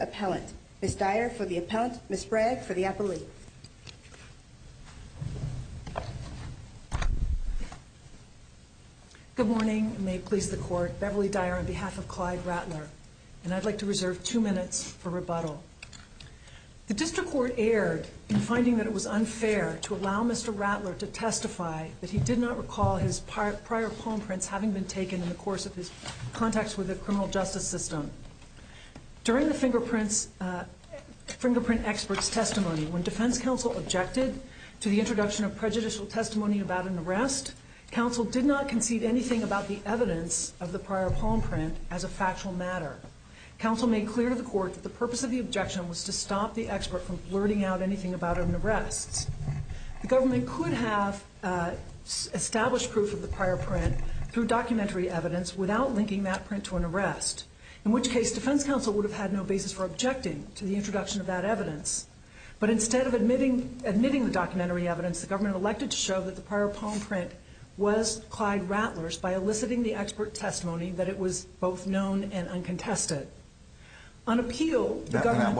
Appellant, Ms. Dyer for the Appellant, Ms. Bragg for the Appellee. Good morning, and may it please the Court, Beverly Dyer on behalf of Clyde Rattler, and I'd like to reserve two minutes for rebuttal. The District Court erred in finding that it was unfair to allow Mr. Rattler to testify that he did not recall his prior palm prints having been taken in the course of his contacts with the criminal justice system. During the fingerprint expert's testimony, when defense counsel objected to the introduction of prejudicial testimony about an arrest, counsel did not concede anything about the evidence of the prior palm print as a factual matter. Counsel made clear to the Court that the purpose of the objection was to stop the expert from blurting out anything about an arrest. The government could have established proof of the prior print through documentary evidence without linking that print to an arrest, in which case defense counsel would have had no basis for objecting to the introduction of that evidence. But instead of admitting the documentary evidence, the government elected to show that the prior palm print was Clyde Rattler's by eliciting the expert's testimony that it was both known and uncontested. On appeal, the government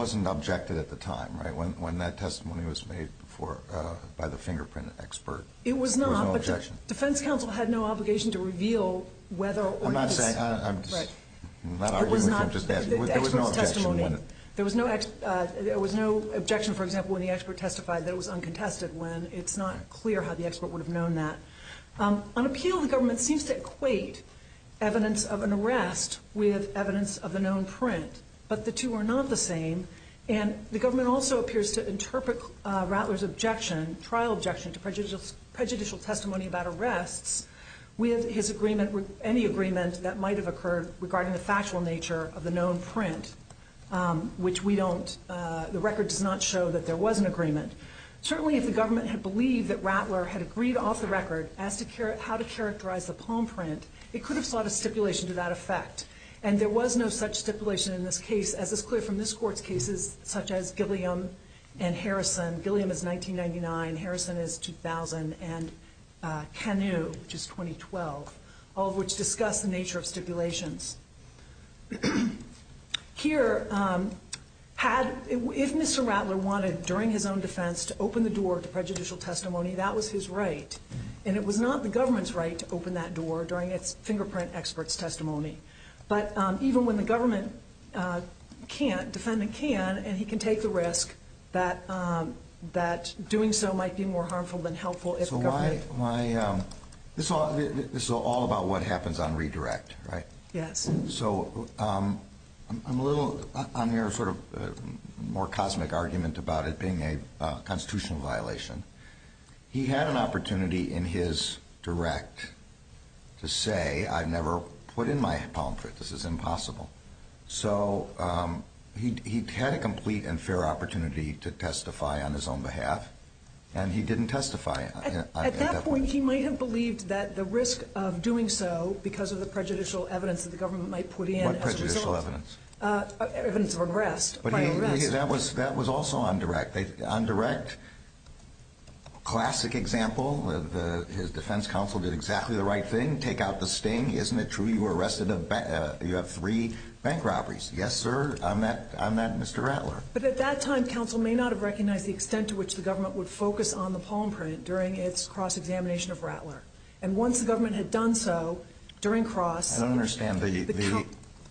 seems to equate evidence of an arrest with evidence of the known truth. But the two are not the same, and the government also appears to interpret Rattler's trial objection to prejudicial testimony about arrests with any agreement that might have occurred regarding the factual nature of the known print, which the record does not show that there was an agreement. Certainly, if the government had believed that Rattler had agreed off the record as to how to characterize the palm print, it could have sought a stipulation to that effect. And there was no such stipulation in this case, as is clear from this Court's cases, such as Gilliam and Harrison. Gilliam is 1999, Harrison is 2000, and Canoe, which is 2012, all of which discuss the nature of stipulations. Here, if Mr. Rattler wanted, during his own defense, to open the door to prejudicial testimony, that was his right. And it was not the government's right to open that door during its fingerprint expert's testimony. But even when the government can't, defendant can, and he can take the risk that doing so might be more harmful than helpful if the government… So this is all about what happens on redirect, right? Yes. So I'm a little, I'm hearing sort of a more cosmic argument about it being a constitutional violation. He had an opportunity in his direct to say, I've never put in my palm print, this is impossible. So he had a complete and fair opportunity to testify on his own behalf, and he didn't testify at that point. I think he might have believed that the risk of doing so because of the prejudicial evidence that the government might put in as a result. What prejudicial evidence? Evidence of arrest, prior arrest. That was also on direct. On direct, classic example, his defense counsel did exactly the right thing, take out the sting. Isn't it true you were arrested, you have three bank robberies? Yes, sir, I'm that Mr. Rattler. But at that time, counsel may not have recognized the extent to which the government would focus on the palm print during its cross-examination of Rattler. And once the government had done so during cross… I don't understand the…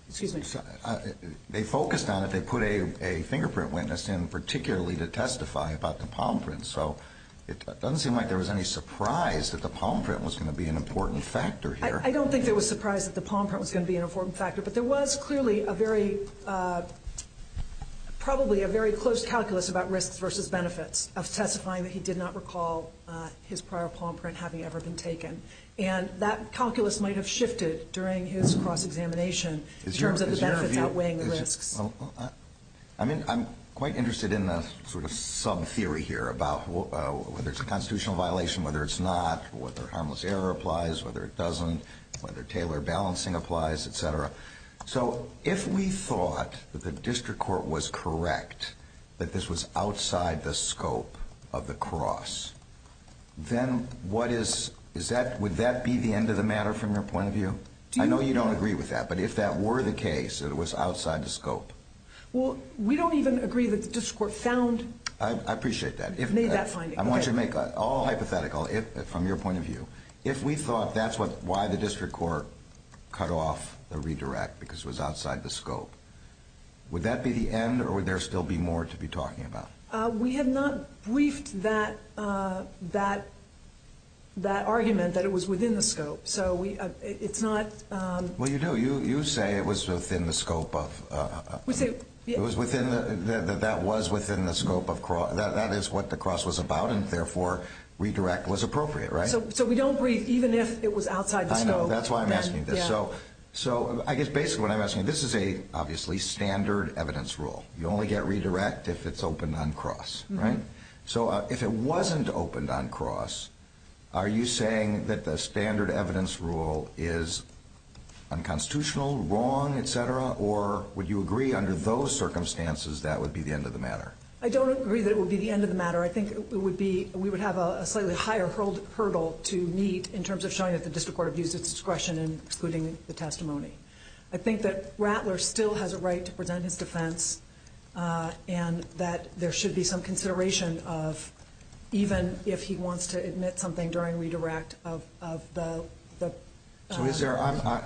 Excuse me. They focused on it, they put a fingerprint witness in particularly to testify about the palm print. So it doesn't seem like there was any surprise that the palm print was going to be an important factor here. I don't think there was surprise that the palm print was going to be an important factor. But there was clearly a very, probably a very close calculus about risks versus benefits of testifying that he did not recall his prior palm print having ever been taken. And that calculus might have shifted during his cross-examination in terms of the benefits outweighing the risks. I mean, I'm quite interested in sort of some theory here about whether it's a constitutional violation, whether it's not, whether harmless error applies, whether it doesn't, whether Taylor balancing applies, etc. So if we thought that the district court was correct that this was outside the scope of the cross, then what is, is that, would that be the end of the matter from your point of view? I know you don't agree with that, but if that were the case, it was outside the scope. Well, we don't even agree that the district court found. I appreciate that. Made that finding. I want you to make all hypothetical from your point of view. If we thought that's what, why the district court cut off the redirect because it was outside the scope, would that be the end or would there still be more to be talking about? We have not briefed that, that, that argument that it was within the scope. So we, it's not. Well, you know, you, you say it was within the scope of, it was within the, that was within the scope of cross. That is what the cross was about. And therefore, redirect was appropriate. Right. So, so we don't breathe, even if it was outside the scope. That's why I'm asking this. So, so I guess basically what I'm asking, this is a obviously standard evidence rule. You only get redirect if it's opened on cross. Right. So if it wasn't opened on cross, are you saying that the standard evidence rule is unconstitutional, wrong, et cetera? Or would you agree under those circumstances that would be the end of the matter? I don't agree that it would be the end of the matter. I think it would be, we would have a slightly higher hurdle to meet in terms of showing that the district court abused its discretion in excluding the testimony. I think that Rattler still has a right to present his defense and that there should be some consideration of even if he wants to admit something during redirect of, of the. So is there,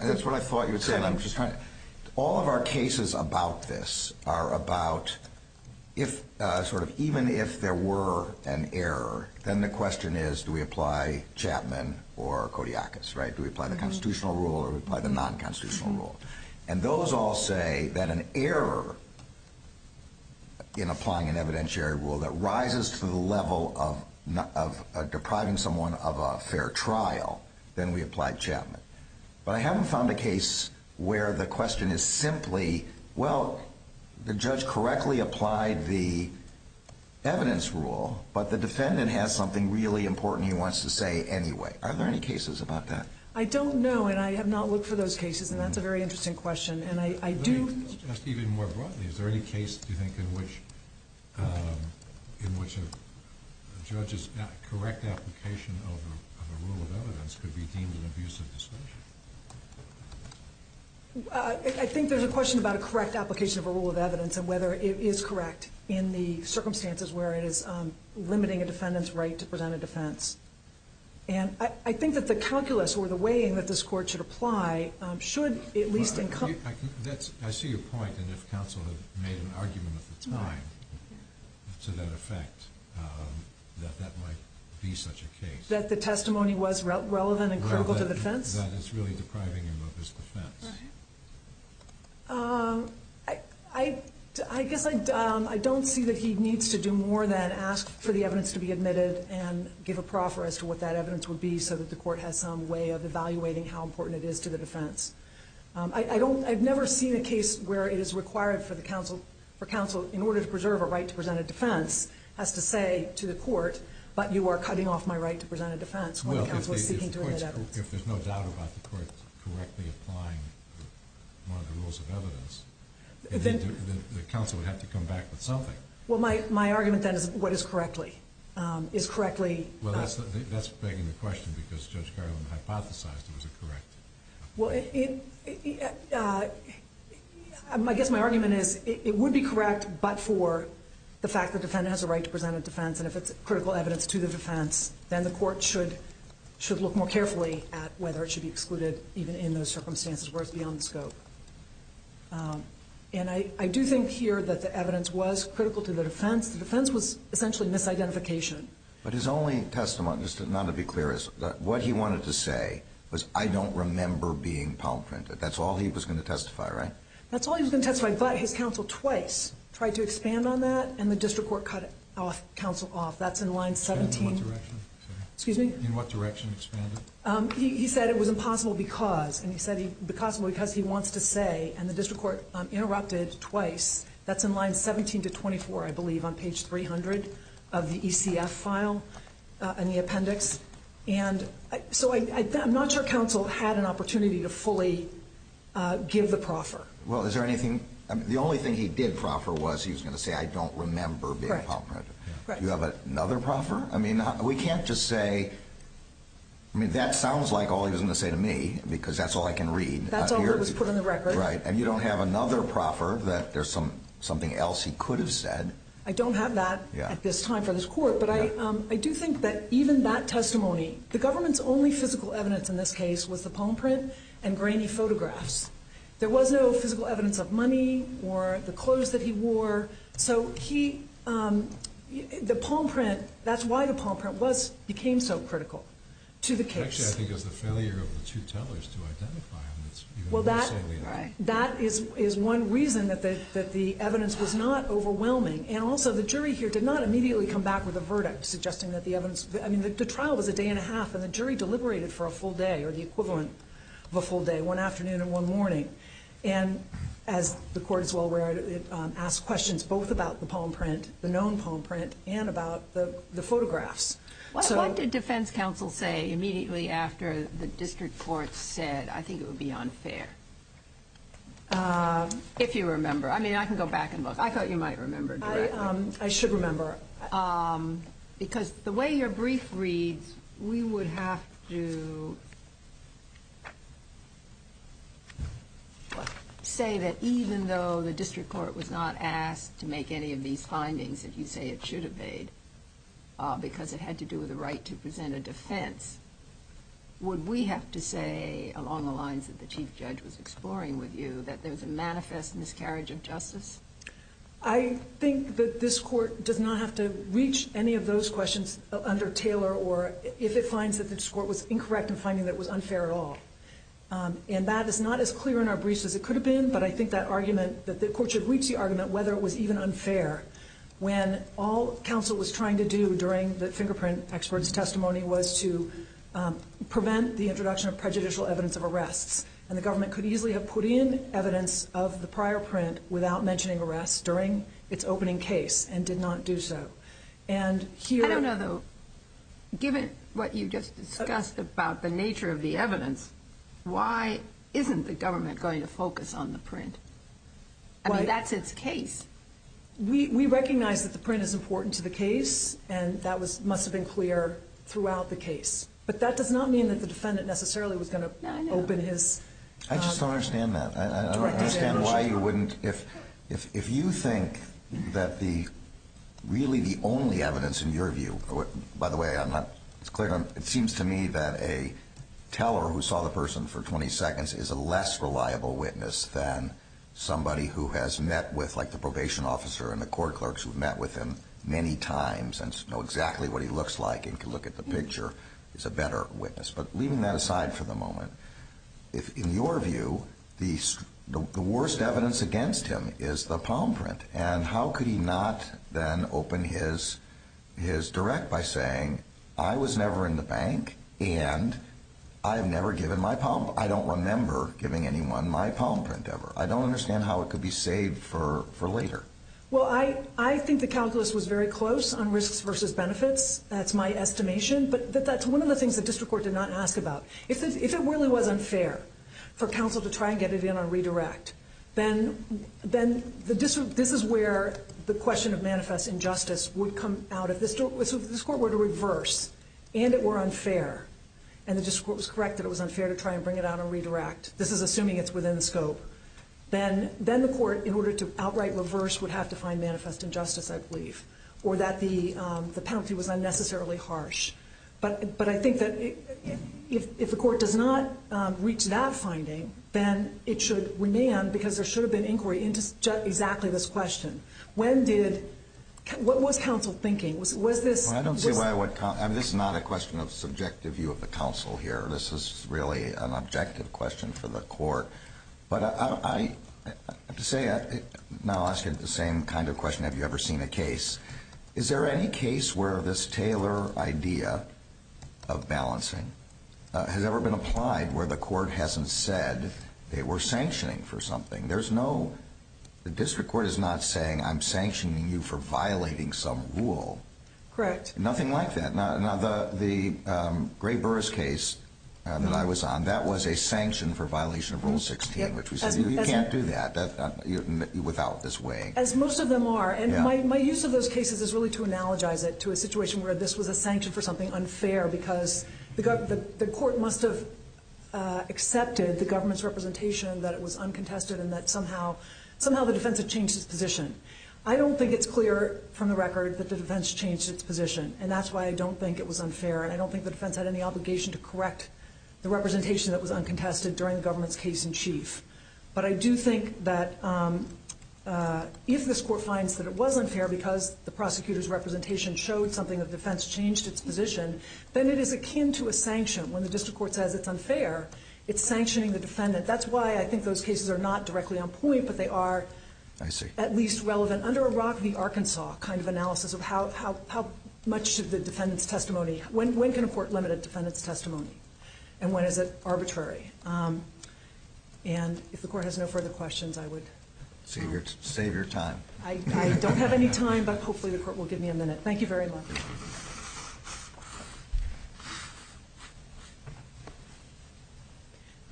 that's what I thought you would say. All of our cases about this are about if, sort of, even if there were an error, then the question is, do we apply Chapman or Kodiakis, right? Do we apply the constitutional rule or do we apply the non-constitutional rule? And those all say that an error in applying an evidentiary rule that rises to the level of depriving someone of a fair trial, then we apply Chapman. But I haven't found a case where the question is simply, well, the judge correctly applied the evidence rule, but the defendant has something really important he wants to say anyway. Are there any cases about that? I don't know, and I have not looked for those cases, and that's a very interesting question. And I do. Just even more broadly, is there any case, do you think, in which, in which a judge's correct application of a rule of evidence could be deemed an abusive discretion? I think there's a question about a correct application of a rule of evidence and whether it is correct in the circumstances where it is limiting a defendant's right to present a defense. And I think that the calculus or the way in which this court should apply should at least encompass… I see your point, and if counsel had made an argument at the time to that effect, that that might be such a case. That the testimony was relevant and critical to the defense? That it's really depriving him of his defense. I guess I don't see that he needs to do more than ask for the evidence to be admitted and give a proffer as to what that evidence would be so that the court has some way of evaluating how important it is to the defense. I've never seen a case where it is required for counsel, in order to preserve a right to present a defense, has to say to the court, but you are cutting off my right to present a defense. Well, if there's no doubt about the court correctly applying one of the rules of evidence, then the counsel would have to come back with something. Well, my argument then is what is correctly? Well, that's begging the question because Judge Garland hypothesized it was a correct… Well, I guess my argument is it would be correct but for the fact that the defendant has a right to present a defense, and if it's critical evidence to the defense, then the court should look more carefully at whether it should be excluded even in those circumstances, whereas beyond the scope. And I do think here that the evidence was critical to the defense. The defense was essentially misidentification. But his only testimony, just not to be clear, is that what he wanted to say was, I don't remember being palm printed. That's all he was going to testify, right? That's all he was going to testify, but his counsel twice tried to expand on that, and the district court cut counsel off. That's in line 17. In what direction? Excuse me? In what direction expanded? He said it was impossible because, and he said it was impossible because he wants to say, and the district court interrupted twice. That's in line 17 to 24, I believe, on page 300 of the ECF file in the appendix. And so I'm not sure counsel had an opportunity to fully give the proffer. Well, is there anything? The only thing he did proffer was he was going to say, I don't remember being palm printed. Do you have another proffer? I mean, we can't just say, I mean, that sounds like all he was going to say to me because that's all I can read. That's all that was put on the record. Right. And you don't have another proffer that there's something else he could have said. I don't have that at this time for this court. But I do think that even that testimony, the government's only physical evidence in this case was the palm print and grainy photographs. There was no physical evidence of money or the clothes that he wore. So he, the palm print, that's why the palm print was, became so critical to the case. Actually, I think it was the failure of the two tellers to identify him. Well, that is one reason that the evidence was not overwhelming. And also, the jury here did not immediately come back with a verdict suggesting that the evidence, I mean, the trial was a day and a half, and the jury deliberated for a full day or the equivalent of a full day, one afternoon and one morning. And as the court is well aware, it asked questions both about the palm print, the known palm print, and about the photographs. What did defense counsel say immediately after the district court said, I think it would be unfair? If you remember. I mean, I can go back and look. I thought you might remember directly. I should remember. Because the way your brief reads, we would have to say that even though the district court was not asked to make any of these findings that you say it should have made, because it had to do with the right to present a defense, would we have to say, along the lines that the chief judge was exploring with you, that there was a manifest miscarriage of justice? I think that this court does not have to reach any of those questions under Taylor, or if it finds that the district court was incorrect in finding that it was unfair at all. And that is not as clear in our briefs as it could have been, but I think that the court should reach the argument whether it was even unfair, when all counsel was trying to do during the fingerprint expert's testimony was to prevent the introduction of prejudicial evidence of arrests. And the government could easily have put in evidence of the prior print without mentioning arrests during its opening case and did not do so. I don't know, though, given what you just discussed about the nature of the evidence, why isn't the government going to focus on the print? I mean, that's its case. We recognize that the print is important to the case, and that must have been clear throughout the case. But that does not mean that the defendant necessarily was going to open his... I just don't understand that. I don't understand why you wouldn't. If you think that really the only evidence in your view, by the way, it's clear, it seems to me that a teller who saw the person for 20 seconds is a less reliable witness than somebody who has met with, like, the probation officer and the court clerks who have met with him many times and know exactly what he looks like and can look at the picture is a better witness. But leaving that aside for the moment, in your view, the worst evidence against him is the palm print. And how could he not then open his direct by saying, I was never in the bank and I have never given my palm print. I don't remember giving anyone my palm print ever. I don't understand how it could be saved for later. Well, I think the calculus was very close on risks versus benefits. That's my estimation. But that's one of the things the district court did not ask about. If it really was unfair for counsel to try and get it in on redirect, then this is where the question of manifest injustice would come out. If this court were to reverse and it were unfair and the district court was correct that it was unfair to try and bring it out on redirect, this is assuming it's within the scope, then the court, in order to outright reverse, would have to find manifest injustice, I believe, or that the penalty was unnecessarily harsh. But I think that if the court does not reach that finding, then it should remain because there should have been inquiry into exactly this question. What was counsel thinking? This is not a question of subjective view of the counsel here. This is really an objective question for the court. But I have to say, now asking the same kind of question, have you ever seen a case, is there any case where this Taylor idea of balancing has ever been applied where the court hasn't said they were sanctioning for something? The district court is not saying I'm sanctioning you for violating some rule. Correct. Nothing like that. Now, the Gray-Burris case that I was on, that was a sanction for violation of Rule 16, which we said you can't do that without this weighing. As most of them are. And my use of those cases is really to analogize it to a situation where this was a sanction for something unfair because the court must have accepted the government's representation that it was uncontested and that somehow the defense had changed its position. I don't think it's clear from the record that the defense changed its position, and that's why I don't think it was unfair, and I don't think the defense had any obligation to correct the representation that was uncontested during the government's case in chief. But I do think that if this court finds that it was unfair because the prosecutor's representation showed something, the defense changed its position, then it is akin to a sanction. When the district court says it's unfair, it's sanctioning the defendant. That's why I think those cases are not directly on point, but they are at least relevant. Under a Rock v. Arkansas kind of analysis of how much should the defendant's testimony, when can a court limit a defendant's testimony, and when is it arbitrary? And if the court has no further questions, I would save your time. I don't have any time, but hopefully the court will give me a minute. Thank you very much.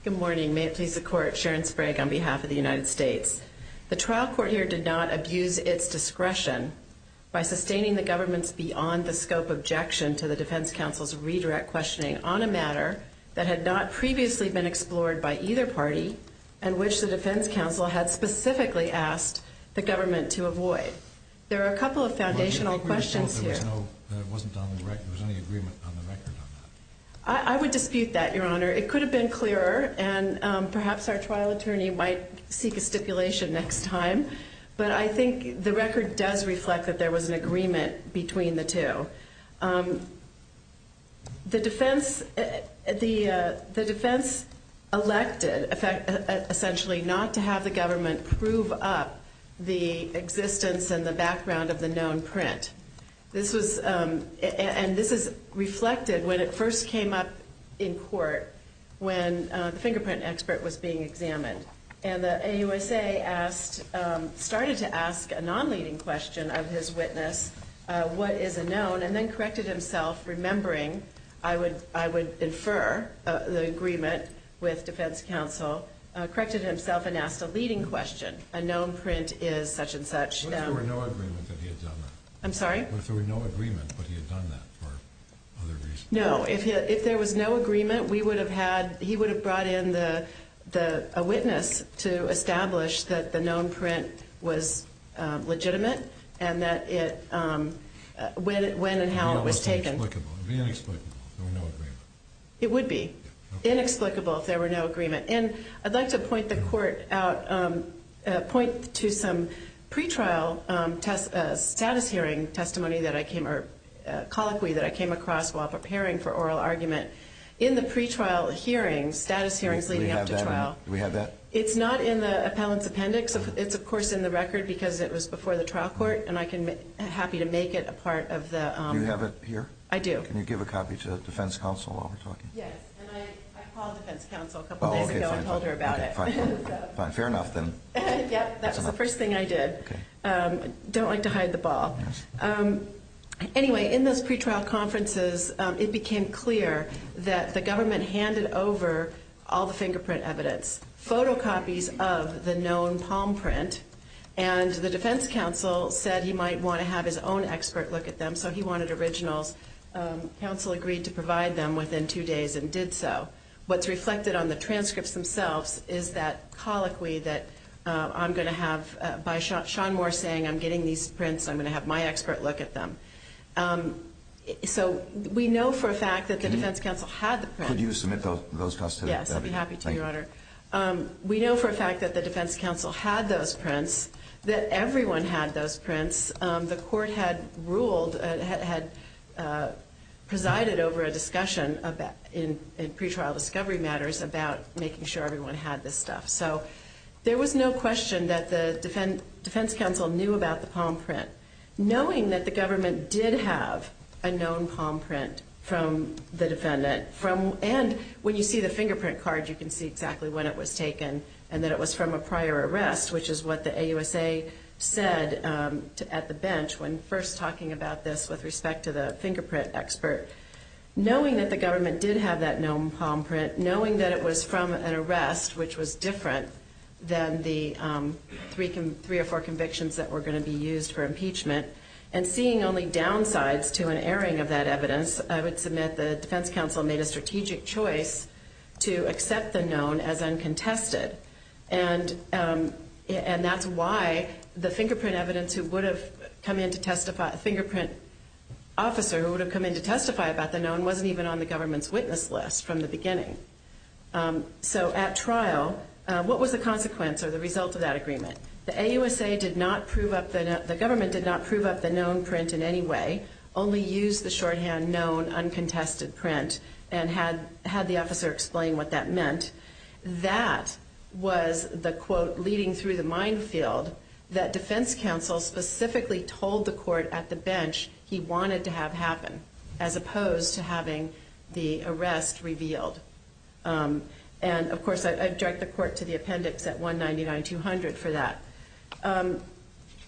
Good morning. May it please the court. Sharon Sprague on behalf of the United States. The trial court here did not abuse its discretion by sustaining the government's beyond-the-scope objection to the defense counsel's redirect questioning on a matter that had not previously been explored by either party and which the defense counsel had specifically asked the government to avoid. There are a couple of foundational questions here. Do you think we would have thought there was no agreement on the record on that? I would dispute that, Your Honor. It could have been clearer, and perhaps our trial attorney might seek a stipulation next time, but I think the record does reflect that there was an agreement between the two. The defense elected, essentially, not to have the government prove up the existence and the background of the known print. And this is reflected when it first came up in court when the fingerprint expert was being examined. And the AUSA started to ask a non-leading question of his witness, what is a known, and then corrected himself, remembering I would infer the agreement with defense counsel, corrected himself and asked a leading question. A known print is such and such. What if there were no agreement that he had done that? I'm sorry? What if there were no agreement but he had done that for other reasons? No, if there was no agreement, he would have brought in a witness to establish that the known print was legitimate and that when and how it was taken. It would be inexplicable if there were no agreement. It would be inexplicable if there were no agreement. And I'd like to point the court out, point to some pre-trial status hearing testimony that I came, or colloquy that I came across while preparing for oral argument. In the pre-trial hearings, status hearings leading up to trial. Do we have that? It's not in the appellant's appendix. It's, of course, in the record because it was before the trial court, and I'm happy to make it a part of the... Do you have it here? I do. Can you give a copy to defense counsel while we're talking? Yes, and I called defense counsel a couple days ago and told her about it. Fair enough, then. Yep, that was the first thing I did. Don't like to hide the ball. Anyway, in those pre-trial conferences, it became clear that the government handed over all the fingerprint evidence, photocopies of the known palm print, and the defense counsel said he might want to have his own expert look at them, so he wanted originals. Counsel agreed to provide them within two days and did so. What's reflected on the transcripts themselves is that colloquy that I'm going to have... By Sean Moore saying I'm getting these prints, I'm going to have my expert look at them. So we know for a fact that the defense counsel had the prints. Could you submit those to us today? Yes, I'd be happy to, Your Honor. We know for a fact that the defense counsel had those prints, that everyone had those prints. The court had presided over a discussion in pre-trial discovery matters about making sure everyone had this stuff. So there was no question that the defense counsel knew about the palm print, knowing that the government did have a known palm print from the defendant. And when you see the fingerprint card, you can see exactly when it was taken and that it was from a prior arrest, which is what the AUSA said at the bench when first talking about this with respect to the fingerprint expert. Knowing that the government did have that known palm print, knowing that it was from an arrest which was different than the three or four convictions that were going to be used for impeachment, and seeing only downsides to an airing of that evidence, I would submit the defense counsel made a strategic choice to accept the known as uncontested. And that's why the fingerprint officer who would have come in to testify about the known wasn't even on the government's witness list from the beginning. So at trial, what was the consequence or the result of that agreement? The government did not prove up the known print in any way, only used the shorthand known uncontested print and had the officer explain what that meant. That was the quote leading through the minefield that defense counsel specifically told the court at the bench he wanted to have happen as opposed to having the arrest revealed. And, of course, I direct the court to the appendix at 199-200 for that.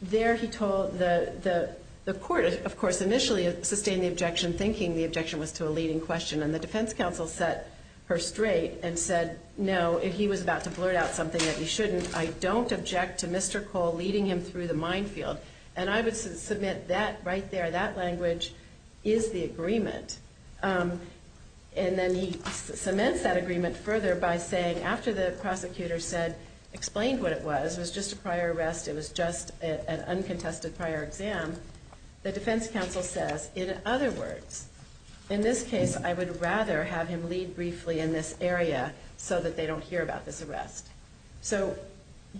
There he told the court, of course, initially sustained the objection thinking the objection was to a leading question. And the defense counsel set her straight and said, no, if he was about to blurt out something that he shouldn't, I don't object to Mr. Cole leading him through the minefield. And I would submit that right there, that language is the agreement. And then he cements that agreement further by saying after the prosecutor said, he explained what it was, it was just a prior arrest, it was just an uncontested prior exam. The defense counsel says, in other words, in this case, I would rather have him lead briefly in this area so that they don't hear about this arrest. So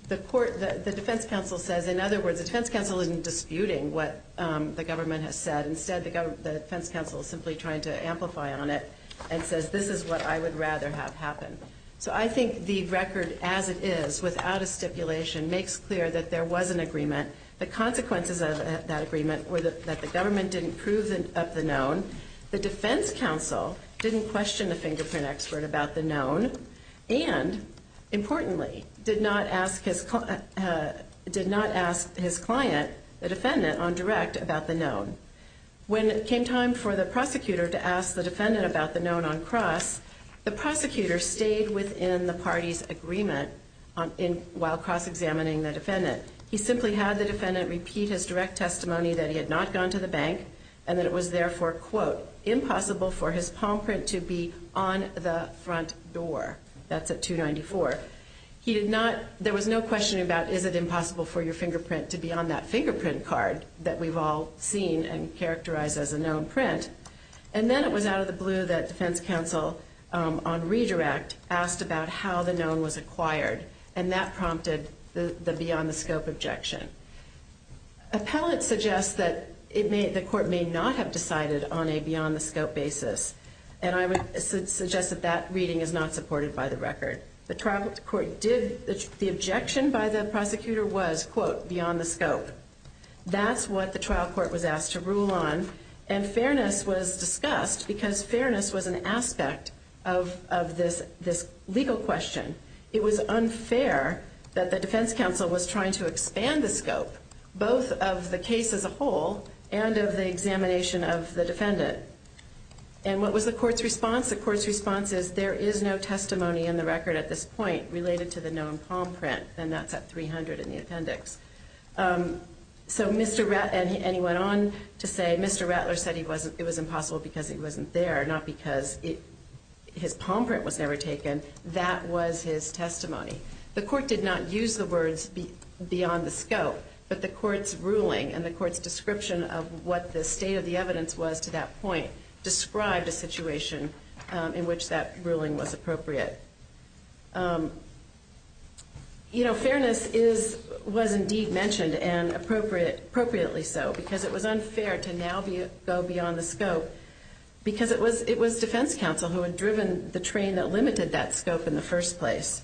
the defense counsel says, in other words, the defense counsel isn't disputing what the government has said. Instead, the defense counsel is simply trying to amplify on it and says, this is what I would rather have happen. So I think the record as it is, without a stipulation, makes clear that there was an agreement. The consequences of that agreement were that the government didn't prove up the known, the defense counsel didn't question the fingerprint expert about the known, and importantly, did not ask his client, the defendant, on direct about the known. When it came time for the prosecutor to ask the defendant about the known on cross, the prosecutor stayed within the party's agreement while cross-examining the defendant. He simply had the defendant repeat his direct testimony that he had not gone to the bank and that it was therefore, quote, impossible for his palm print to be on the front door. That's at 294. He did not, there was no question about is it impossible for your fingerprint to be on that fingerprint card that we've all seen and characterized as a known print. And then it was out of the blue that defense counsel on redirect asked about how the known was acquired and that prompted the beyond the scope objection. Appellate suggests that the court may not have decided on a beyond the scope basis and I would suggest that that reading is not supported by the record. The objection by the prosecutor was, quote, beyond the scope. That's what the trial court was asked to rule on and fairness was discussed because fairness was an aspect of this legal question. It was unfair that the defense counsel was trying to expand the scope, both of the case as a whole and of the examination of the defendant. And what was the court's response? The court's response is there is no testimony in the record at this point related to the known palm print and that's at 300 in the appendix. And he went on to say Mr. Rattler said it was impossible because he wasn't there, not because his palm print was never taken. That was his testimony. The court did not use the words beyond the scope, but the court's ruling and the court's description of what the state of the evidence was to that point described a situation in which that ruling was appropriate. You know, fairness was indeed mentioned and appropriately so because it was unfair to now go beyond the scope because it was defense counsel who had driven the train that limited that scope in the first place.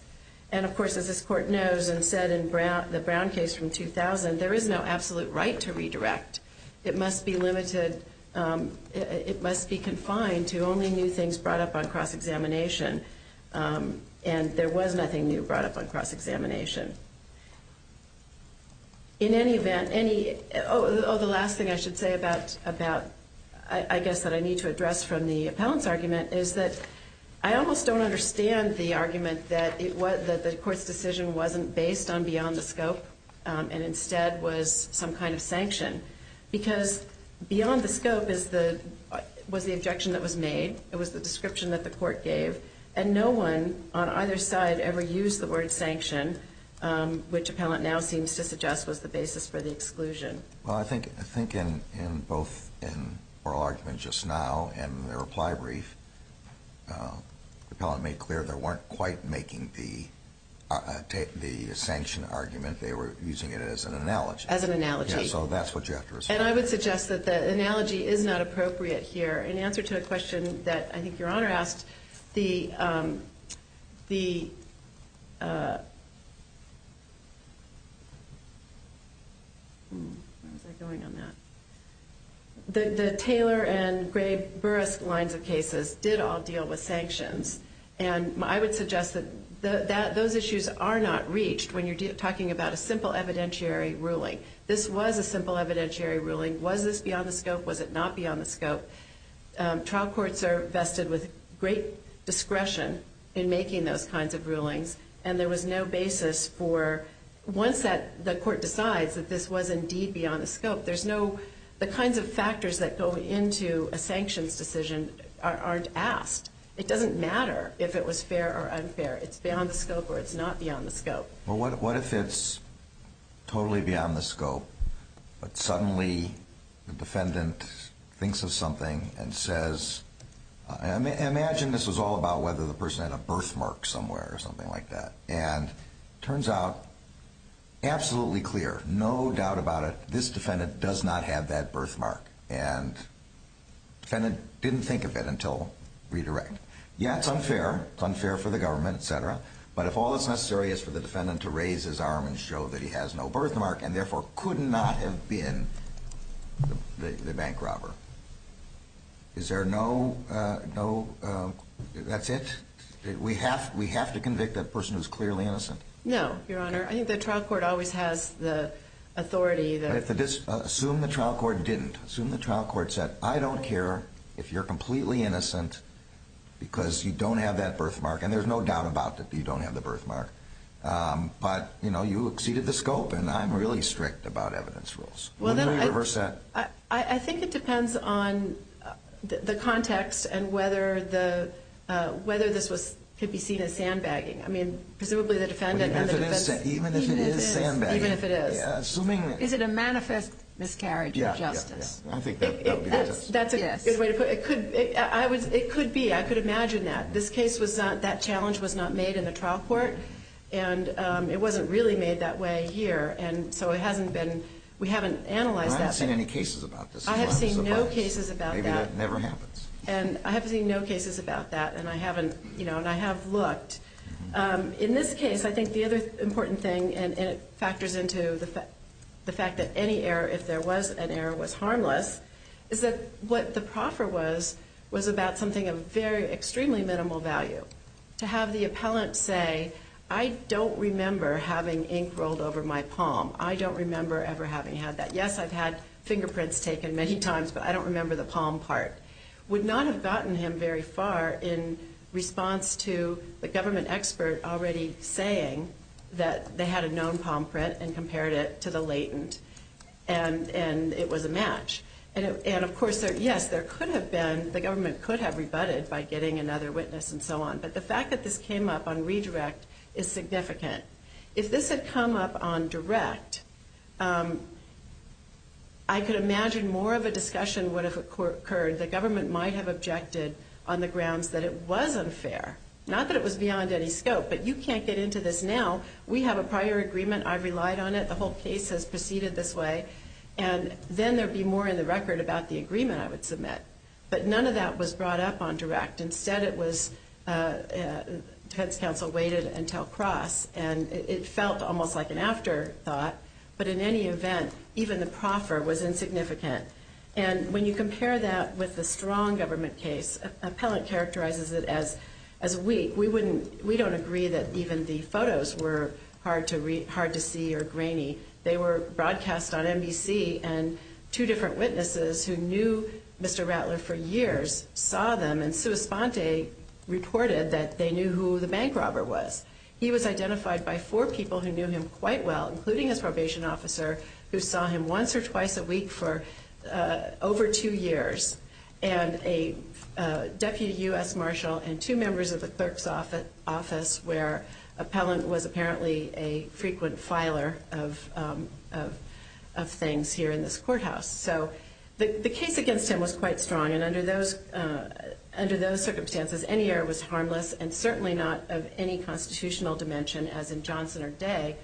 And, of course, as this court knows and said in the Brown case from 2000, there is no absolute right to redirect. It must be limited. It must be confined to only new things brought up on cross-examination. And there was nothing new brought up on cross-examination. In any event, oh, the last thing I should say about I guess that I need to address from the appellant's argument is that I almost don't understand the argument that the court's decision wasn't based on beyond the scope and instead was some kind of sanction because beyond the scope was the objection that was made. It was the description that the court gave. And no one on either side ever used the word sanction, which the appellant now seems to suggest was the basis for the exclusion. Well, I think in both in oral argument just now and the reply brief, the appellant made clear they weren't quite making the sanction argument. They were using it as an analogy. As an analogy. So that's what you have to respond to. And I would suggest that the analogy is not appropriate here. In answer to a question that I think Your Honor asked, the Taylor and Gray-Burris lines of cases, did all deal with sanctions. And I would suggest that those issues are not reached when you're talking about a simple evidentiary ruling. This was a simple evidentiary ruling. Was this beyond the scope? Was it not beyond the scope? Trial courts are vested with great discretion in making those kinds of rulings. And there was no basis for once the court decides that this was indeed beyond the scope, the kinds of factors that go into a sanctions decision aren't asked. It doesn't matter if it was fair or unfair. It's beyond the scope or it's not beyond the scope. Well, what if it's totally beyond the scope, but suddenly the defendant thinks of something and says, imagine this was all about whether the person had a birthmark somewhere or something like that. And it turns out absolutely clear, no doubt about it, that this defendant does not have that birthmark and the defendant didn't think of it until redirect. Yeah, it's unfair. It's unfair for the government, et cetera. But if all that's necessary is for the defendant to raise his arm and show that he has no birthmark and therefore could not have been the bank robber, is there no, that's it? We have to convict that person who's clearly innocent? No, Your Honor. I think the trial court always has the authority. Assume the trial court didn't. Assume the trial court said, I don't care if you're completely innocent because you don't have that birthmark. And there's no doubt about that you don't have the birthmark. But, you know, you exceeded the scope, and I'm really strict about evidence rules. Would you reverse that? I think it depends on the context and whether this could be seen as sandbagging. I mean, presumably the defendant and the defense. Even if it is sandbagging. Even if it is. Assuming that. Is it a manifest miscarriage of justice? Yeah, yeah. I think that would be the test. That's a good way to put it. It could be. I could imagine that. This case was not, that challenge was not made in the trial court, and it wasn't really made that way here. And so it hasn't been, we haven't analyzed that. I haven't seen any cases about this. I have seen no cases about that. Maybe that never happens. And I haven't seen no cases about that, and I haven't, you know, and I have looked. In this case, I think the other important thing, and it factors into the fact that any error, if there was an error, was harmless, is that what the proffer was, was about something of extremely minimal value. To have the appellant say, I don't remember having ink rolled over my palm. I don't remember ever having had that. Yes, I've had fingerprints taken many times, but I don't remember the palm part. Would not have gotten him very far in response to the government expert already saying that they had a known palm print and compared it to the latent, and it was a match. And, of course, yes, there could have been, the government could have rebutted by getting another witness and so on. But the fact that this came up on redirect is significant. If this had come up on direct, I could imagine more of a discussion would have occurred. The government might have objected on the grounds that it was unfair. Not that it was beyond any scope, but you can't get into this now. We have a prior agreement. I've relied on it. The whole case has proceeded this way. And then there would be more in the record about the agreement I would submit. But none of that was brought up on direct. Instead it was defense counsel waited until cross, and it felt almost like an afterthought. But in any event, even the proffer was insignificant. And when you compare that with the strong government case, appellant characterizes it as weak. We don't agree that even the photos were hard to see or grainy. They were broadcast on NBC, and two different witnesses who knew Mr. Rattler for years saw them. And Sua Sponte reported that they knew who the bank robber was. He was identified by four people who knew him quite well, including his probation officer, who saw him once or twice a week for over two years, and a deputy U.S. marshal and two members of the clerk's office where appellant was apparently a frequent filer of things here in this courthouse. So the case against him was quite strong, and under those circumstances any error was harmless and certainly not of any constitutional dimension, as in Johnson or Day,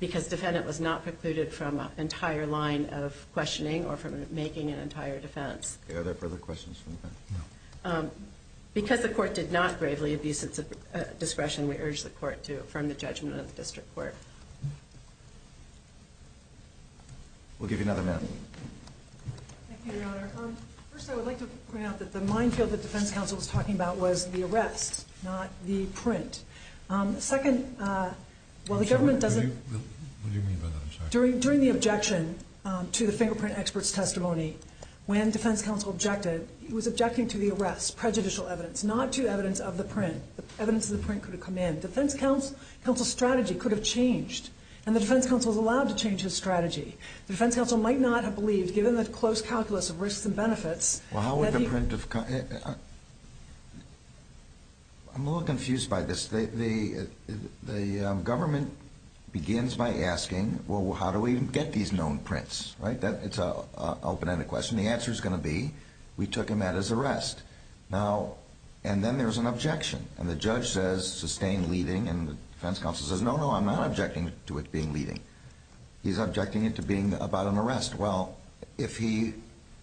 because defendant was not precluded from an entire line of questioning or from making an entire defense. Are there further questions from the panel? No. Because the court did not bravely abuse its discretion, we urge the court to affirm the judgment of the district court. We'll give you another minute. Thank you, Your Honor. First, I would like to point out that the minefield that defense counsel was talking about was the arrest, not the print. Second, while the government doesn't- What do you mean by that? I'm sorry. During the objection to the fingerprint expert's testimony, when defense counsel objected, he was objecting to the arrest, prejudicial evidence, not to evidence of the print. Evidence of the print could have come in. Defense counsel's strategy could have changed, and the defense counsel was allowed to change his strategy. The defense counsel might not have believed, given the close calculus of risks and benefits- Well, how would the print of- I'm a little confused by this. The government begins by asking, well, how do we get these known prints? It's an open-ended question. The answer is going to be, we took him at his arrest. And then there's an objection, and the judge says, sustain leading, and the defense counsel says, no, no, I'm not objecting to it being leading. He's objecting it to being about an arrest. Well, if he-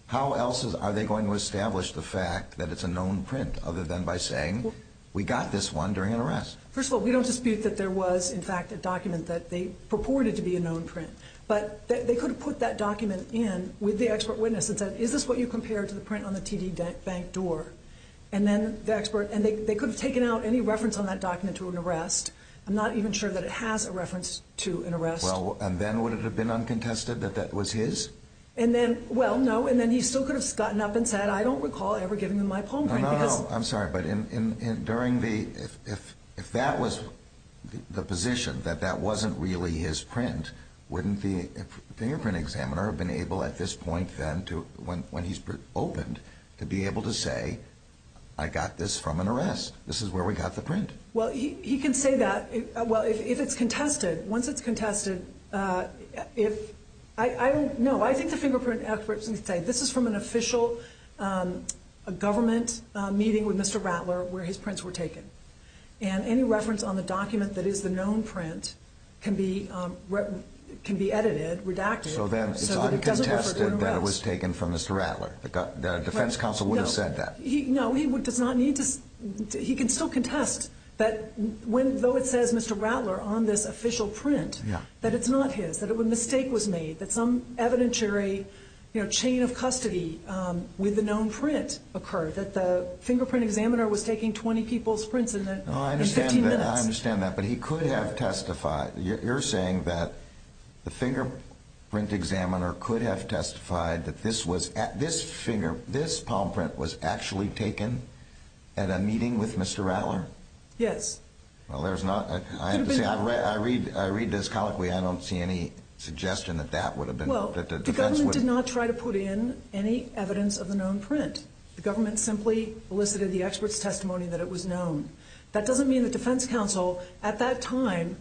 how else are they going to establish the fact that it's a known print, other than by saying, we got this one during an arrest? First of all, we don't dispute that there was, in fact, a document that they purported to be a known print. But they could have put that document in with the expert witness and said, is this what you compared to the print on the TD Bank door? And then the expert- and they could have taken out any reference on that document to an arrest. Well, and then would it have been uncontested that that was his? And then- well, no, and then he still could have gotten up and said, I don't recall ever giving them my palm print because- No, no, no, I'm sorry, but during the- if that was the position, that that wasn't really his print, wouldn't the fingerprint examiner have been able at this point then to- when he's opened, to be able to say, I got this from an arrest. This is where we got the print. Well, he can say that- well, if it's contested, once it's contested, if- I don't- no, I think the fingerprint experts can say, this is from an official government meeting with Mr. Rattler where his prints were taken. And any reference on the document that is the known print can be edited, redacted- So then it's uncontested that it was taken from Mr. Rattler. The defense counsel would have said that. No, he does not need to- he can still contest that when- though it says Mr. Rattler on this official print, that it's not his, that a mistake was made, that some evidentiary chain of custody with the known print occurred, that the fingerprint examiner was taking 20 people's prints in 15 minutes. I understand that, but he could have testified. You're saying that the fingerprint examiner could have testified that this was- that this finger, this palm print was actually taken at a meeting with Mr. Rattler? Yes. Well, there's not- I have to say, I read this colloquially, I don't see any suggestion that that would have been- Well, the government did not try to put in any evidence of the known print. The government simply elicited the expert's testimony that it was known. That doesn't mean the defense counsel at that time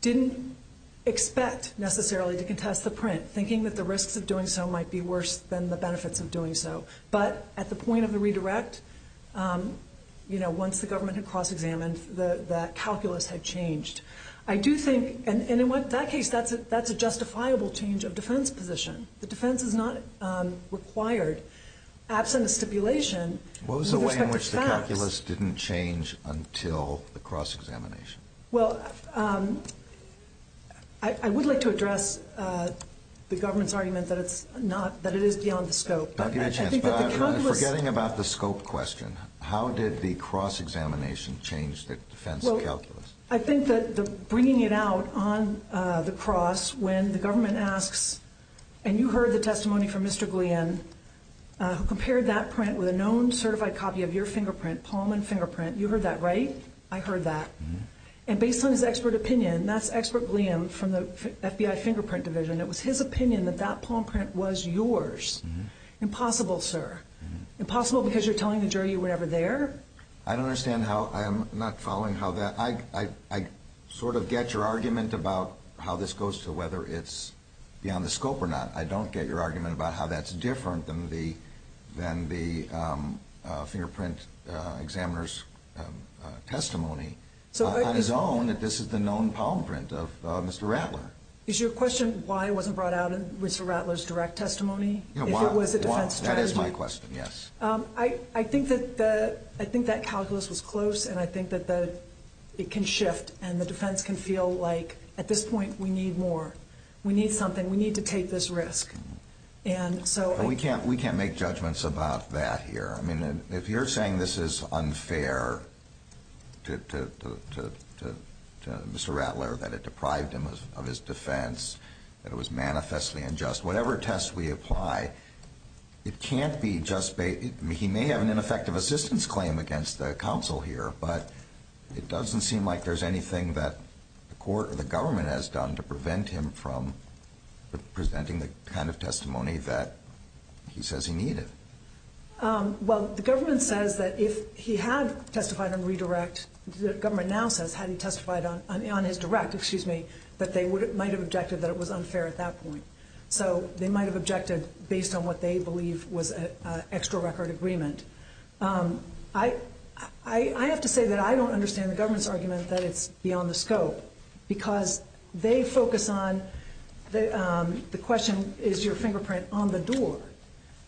didn't expect necessarily to contest the print, thinking that the risks of doing so might be worse than the benefits of doing so. But at the point of the redirect, you know, once the government had cross-examined, the calculus had changed. I do think- and in that case, that's a justifiable change of defense position. The defense is not required. Absent a stipulation- What was the way in which the calculus didn't change until the cross-examination? Well, I would like to address the government's argument that it's not- that it is beyond the scope. I'll give you a chance, but I'm forgetting about the scope question. How did the cross-examination change the defense calculus? I think that bringing it out on the cross when the government asks- and you heard the testimony from Mr. Guillen, who compared that print with a known certified copy of your fingerprint, palm and fingerprint. You heard that, right? I heard that. And based on his expert opinion- that's expert Guillen from the FBI fingerprint division. It was his opinion that that palm print was yours. Impossible, sir. Impossible because you're telling the jury you were never there. I don't understand how- I'm not following how that- I sort of get your argument about how this goes to whether it's beyond the scope or not. I don't get your argument about how that's different than the fingerprint examiner's testimony. On his own, this is the known palm print of Mr. Rattler. Is your question why it wasn't brought out in Mr. Rattler's direct testimony? If it was a defense strategy? That is my question, yes. I think that calculus was close, and I think that it can shift, and the defense can feel like at this point we need more. We need something. We need to take this risk. And so- We can't make judgments about that here. I mean, if you're saying this is unfair to Mr. Rattler, that it deprived him of his defense, that it was manifestly unjust, whatever test we apply, it can't be just- he may have an ineffective assistance claim against the counsel here, but it doesn't seem like there's anything that the court or the government has done to prevent him from presenting the kind of testimony that he says he needed. Well, the government says that if he had testified on redirect, the government now says had he testified on his direct, excuse me, that they might have objected that it was unfair at that point. So they might have objected based on what they believe was an extra record agreement. I have to say that I don't understand the government's argument that it's beyond the scope because they focus on the question is your fingerprint on the door,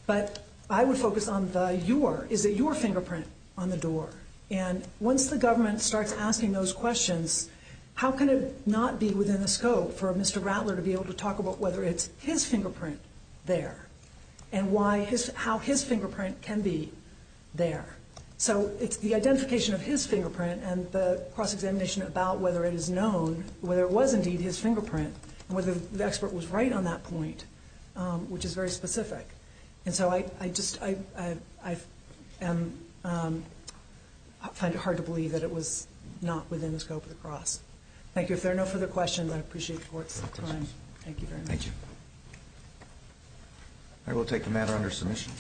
but I would focus on the your. Is it your fingerprint on the door? And once the government starts asking those questions, how can it not be within the scope for Mr. Rattler to be able to talk about whether it's his fingerprint there and how his fingerprint can be there? So it's the identification of his fingerprint and the cross-examination about whether it is known, whether it was indeed his fingerprint, whether the expert was right on that point, which is very specific. And so I find it hard to believe that it was not within the scope of the cross. Thank you. If there are no further questions, I appreciate the court's time. Thank you very much. Thank you. I will take the matter under submission.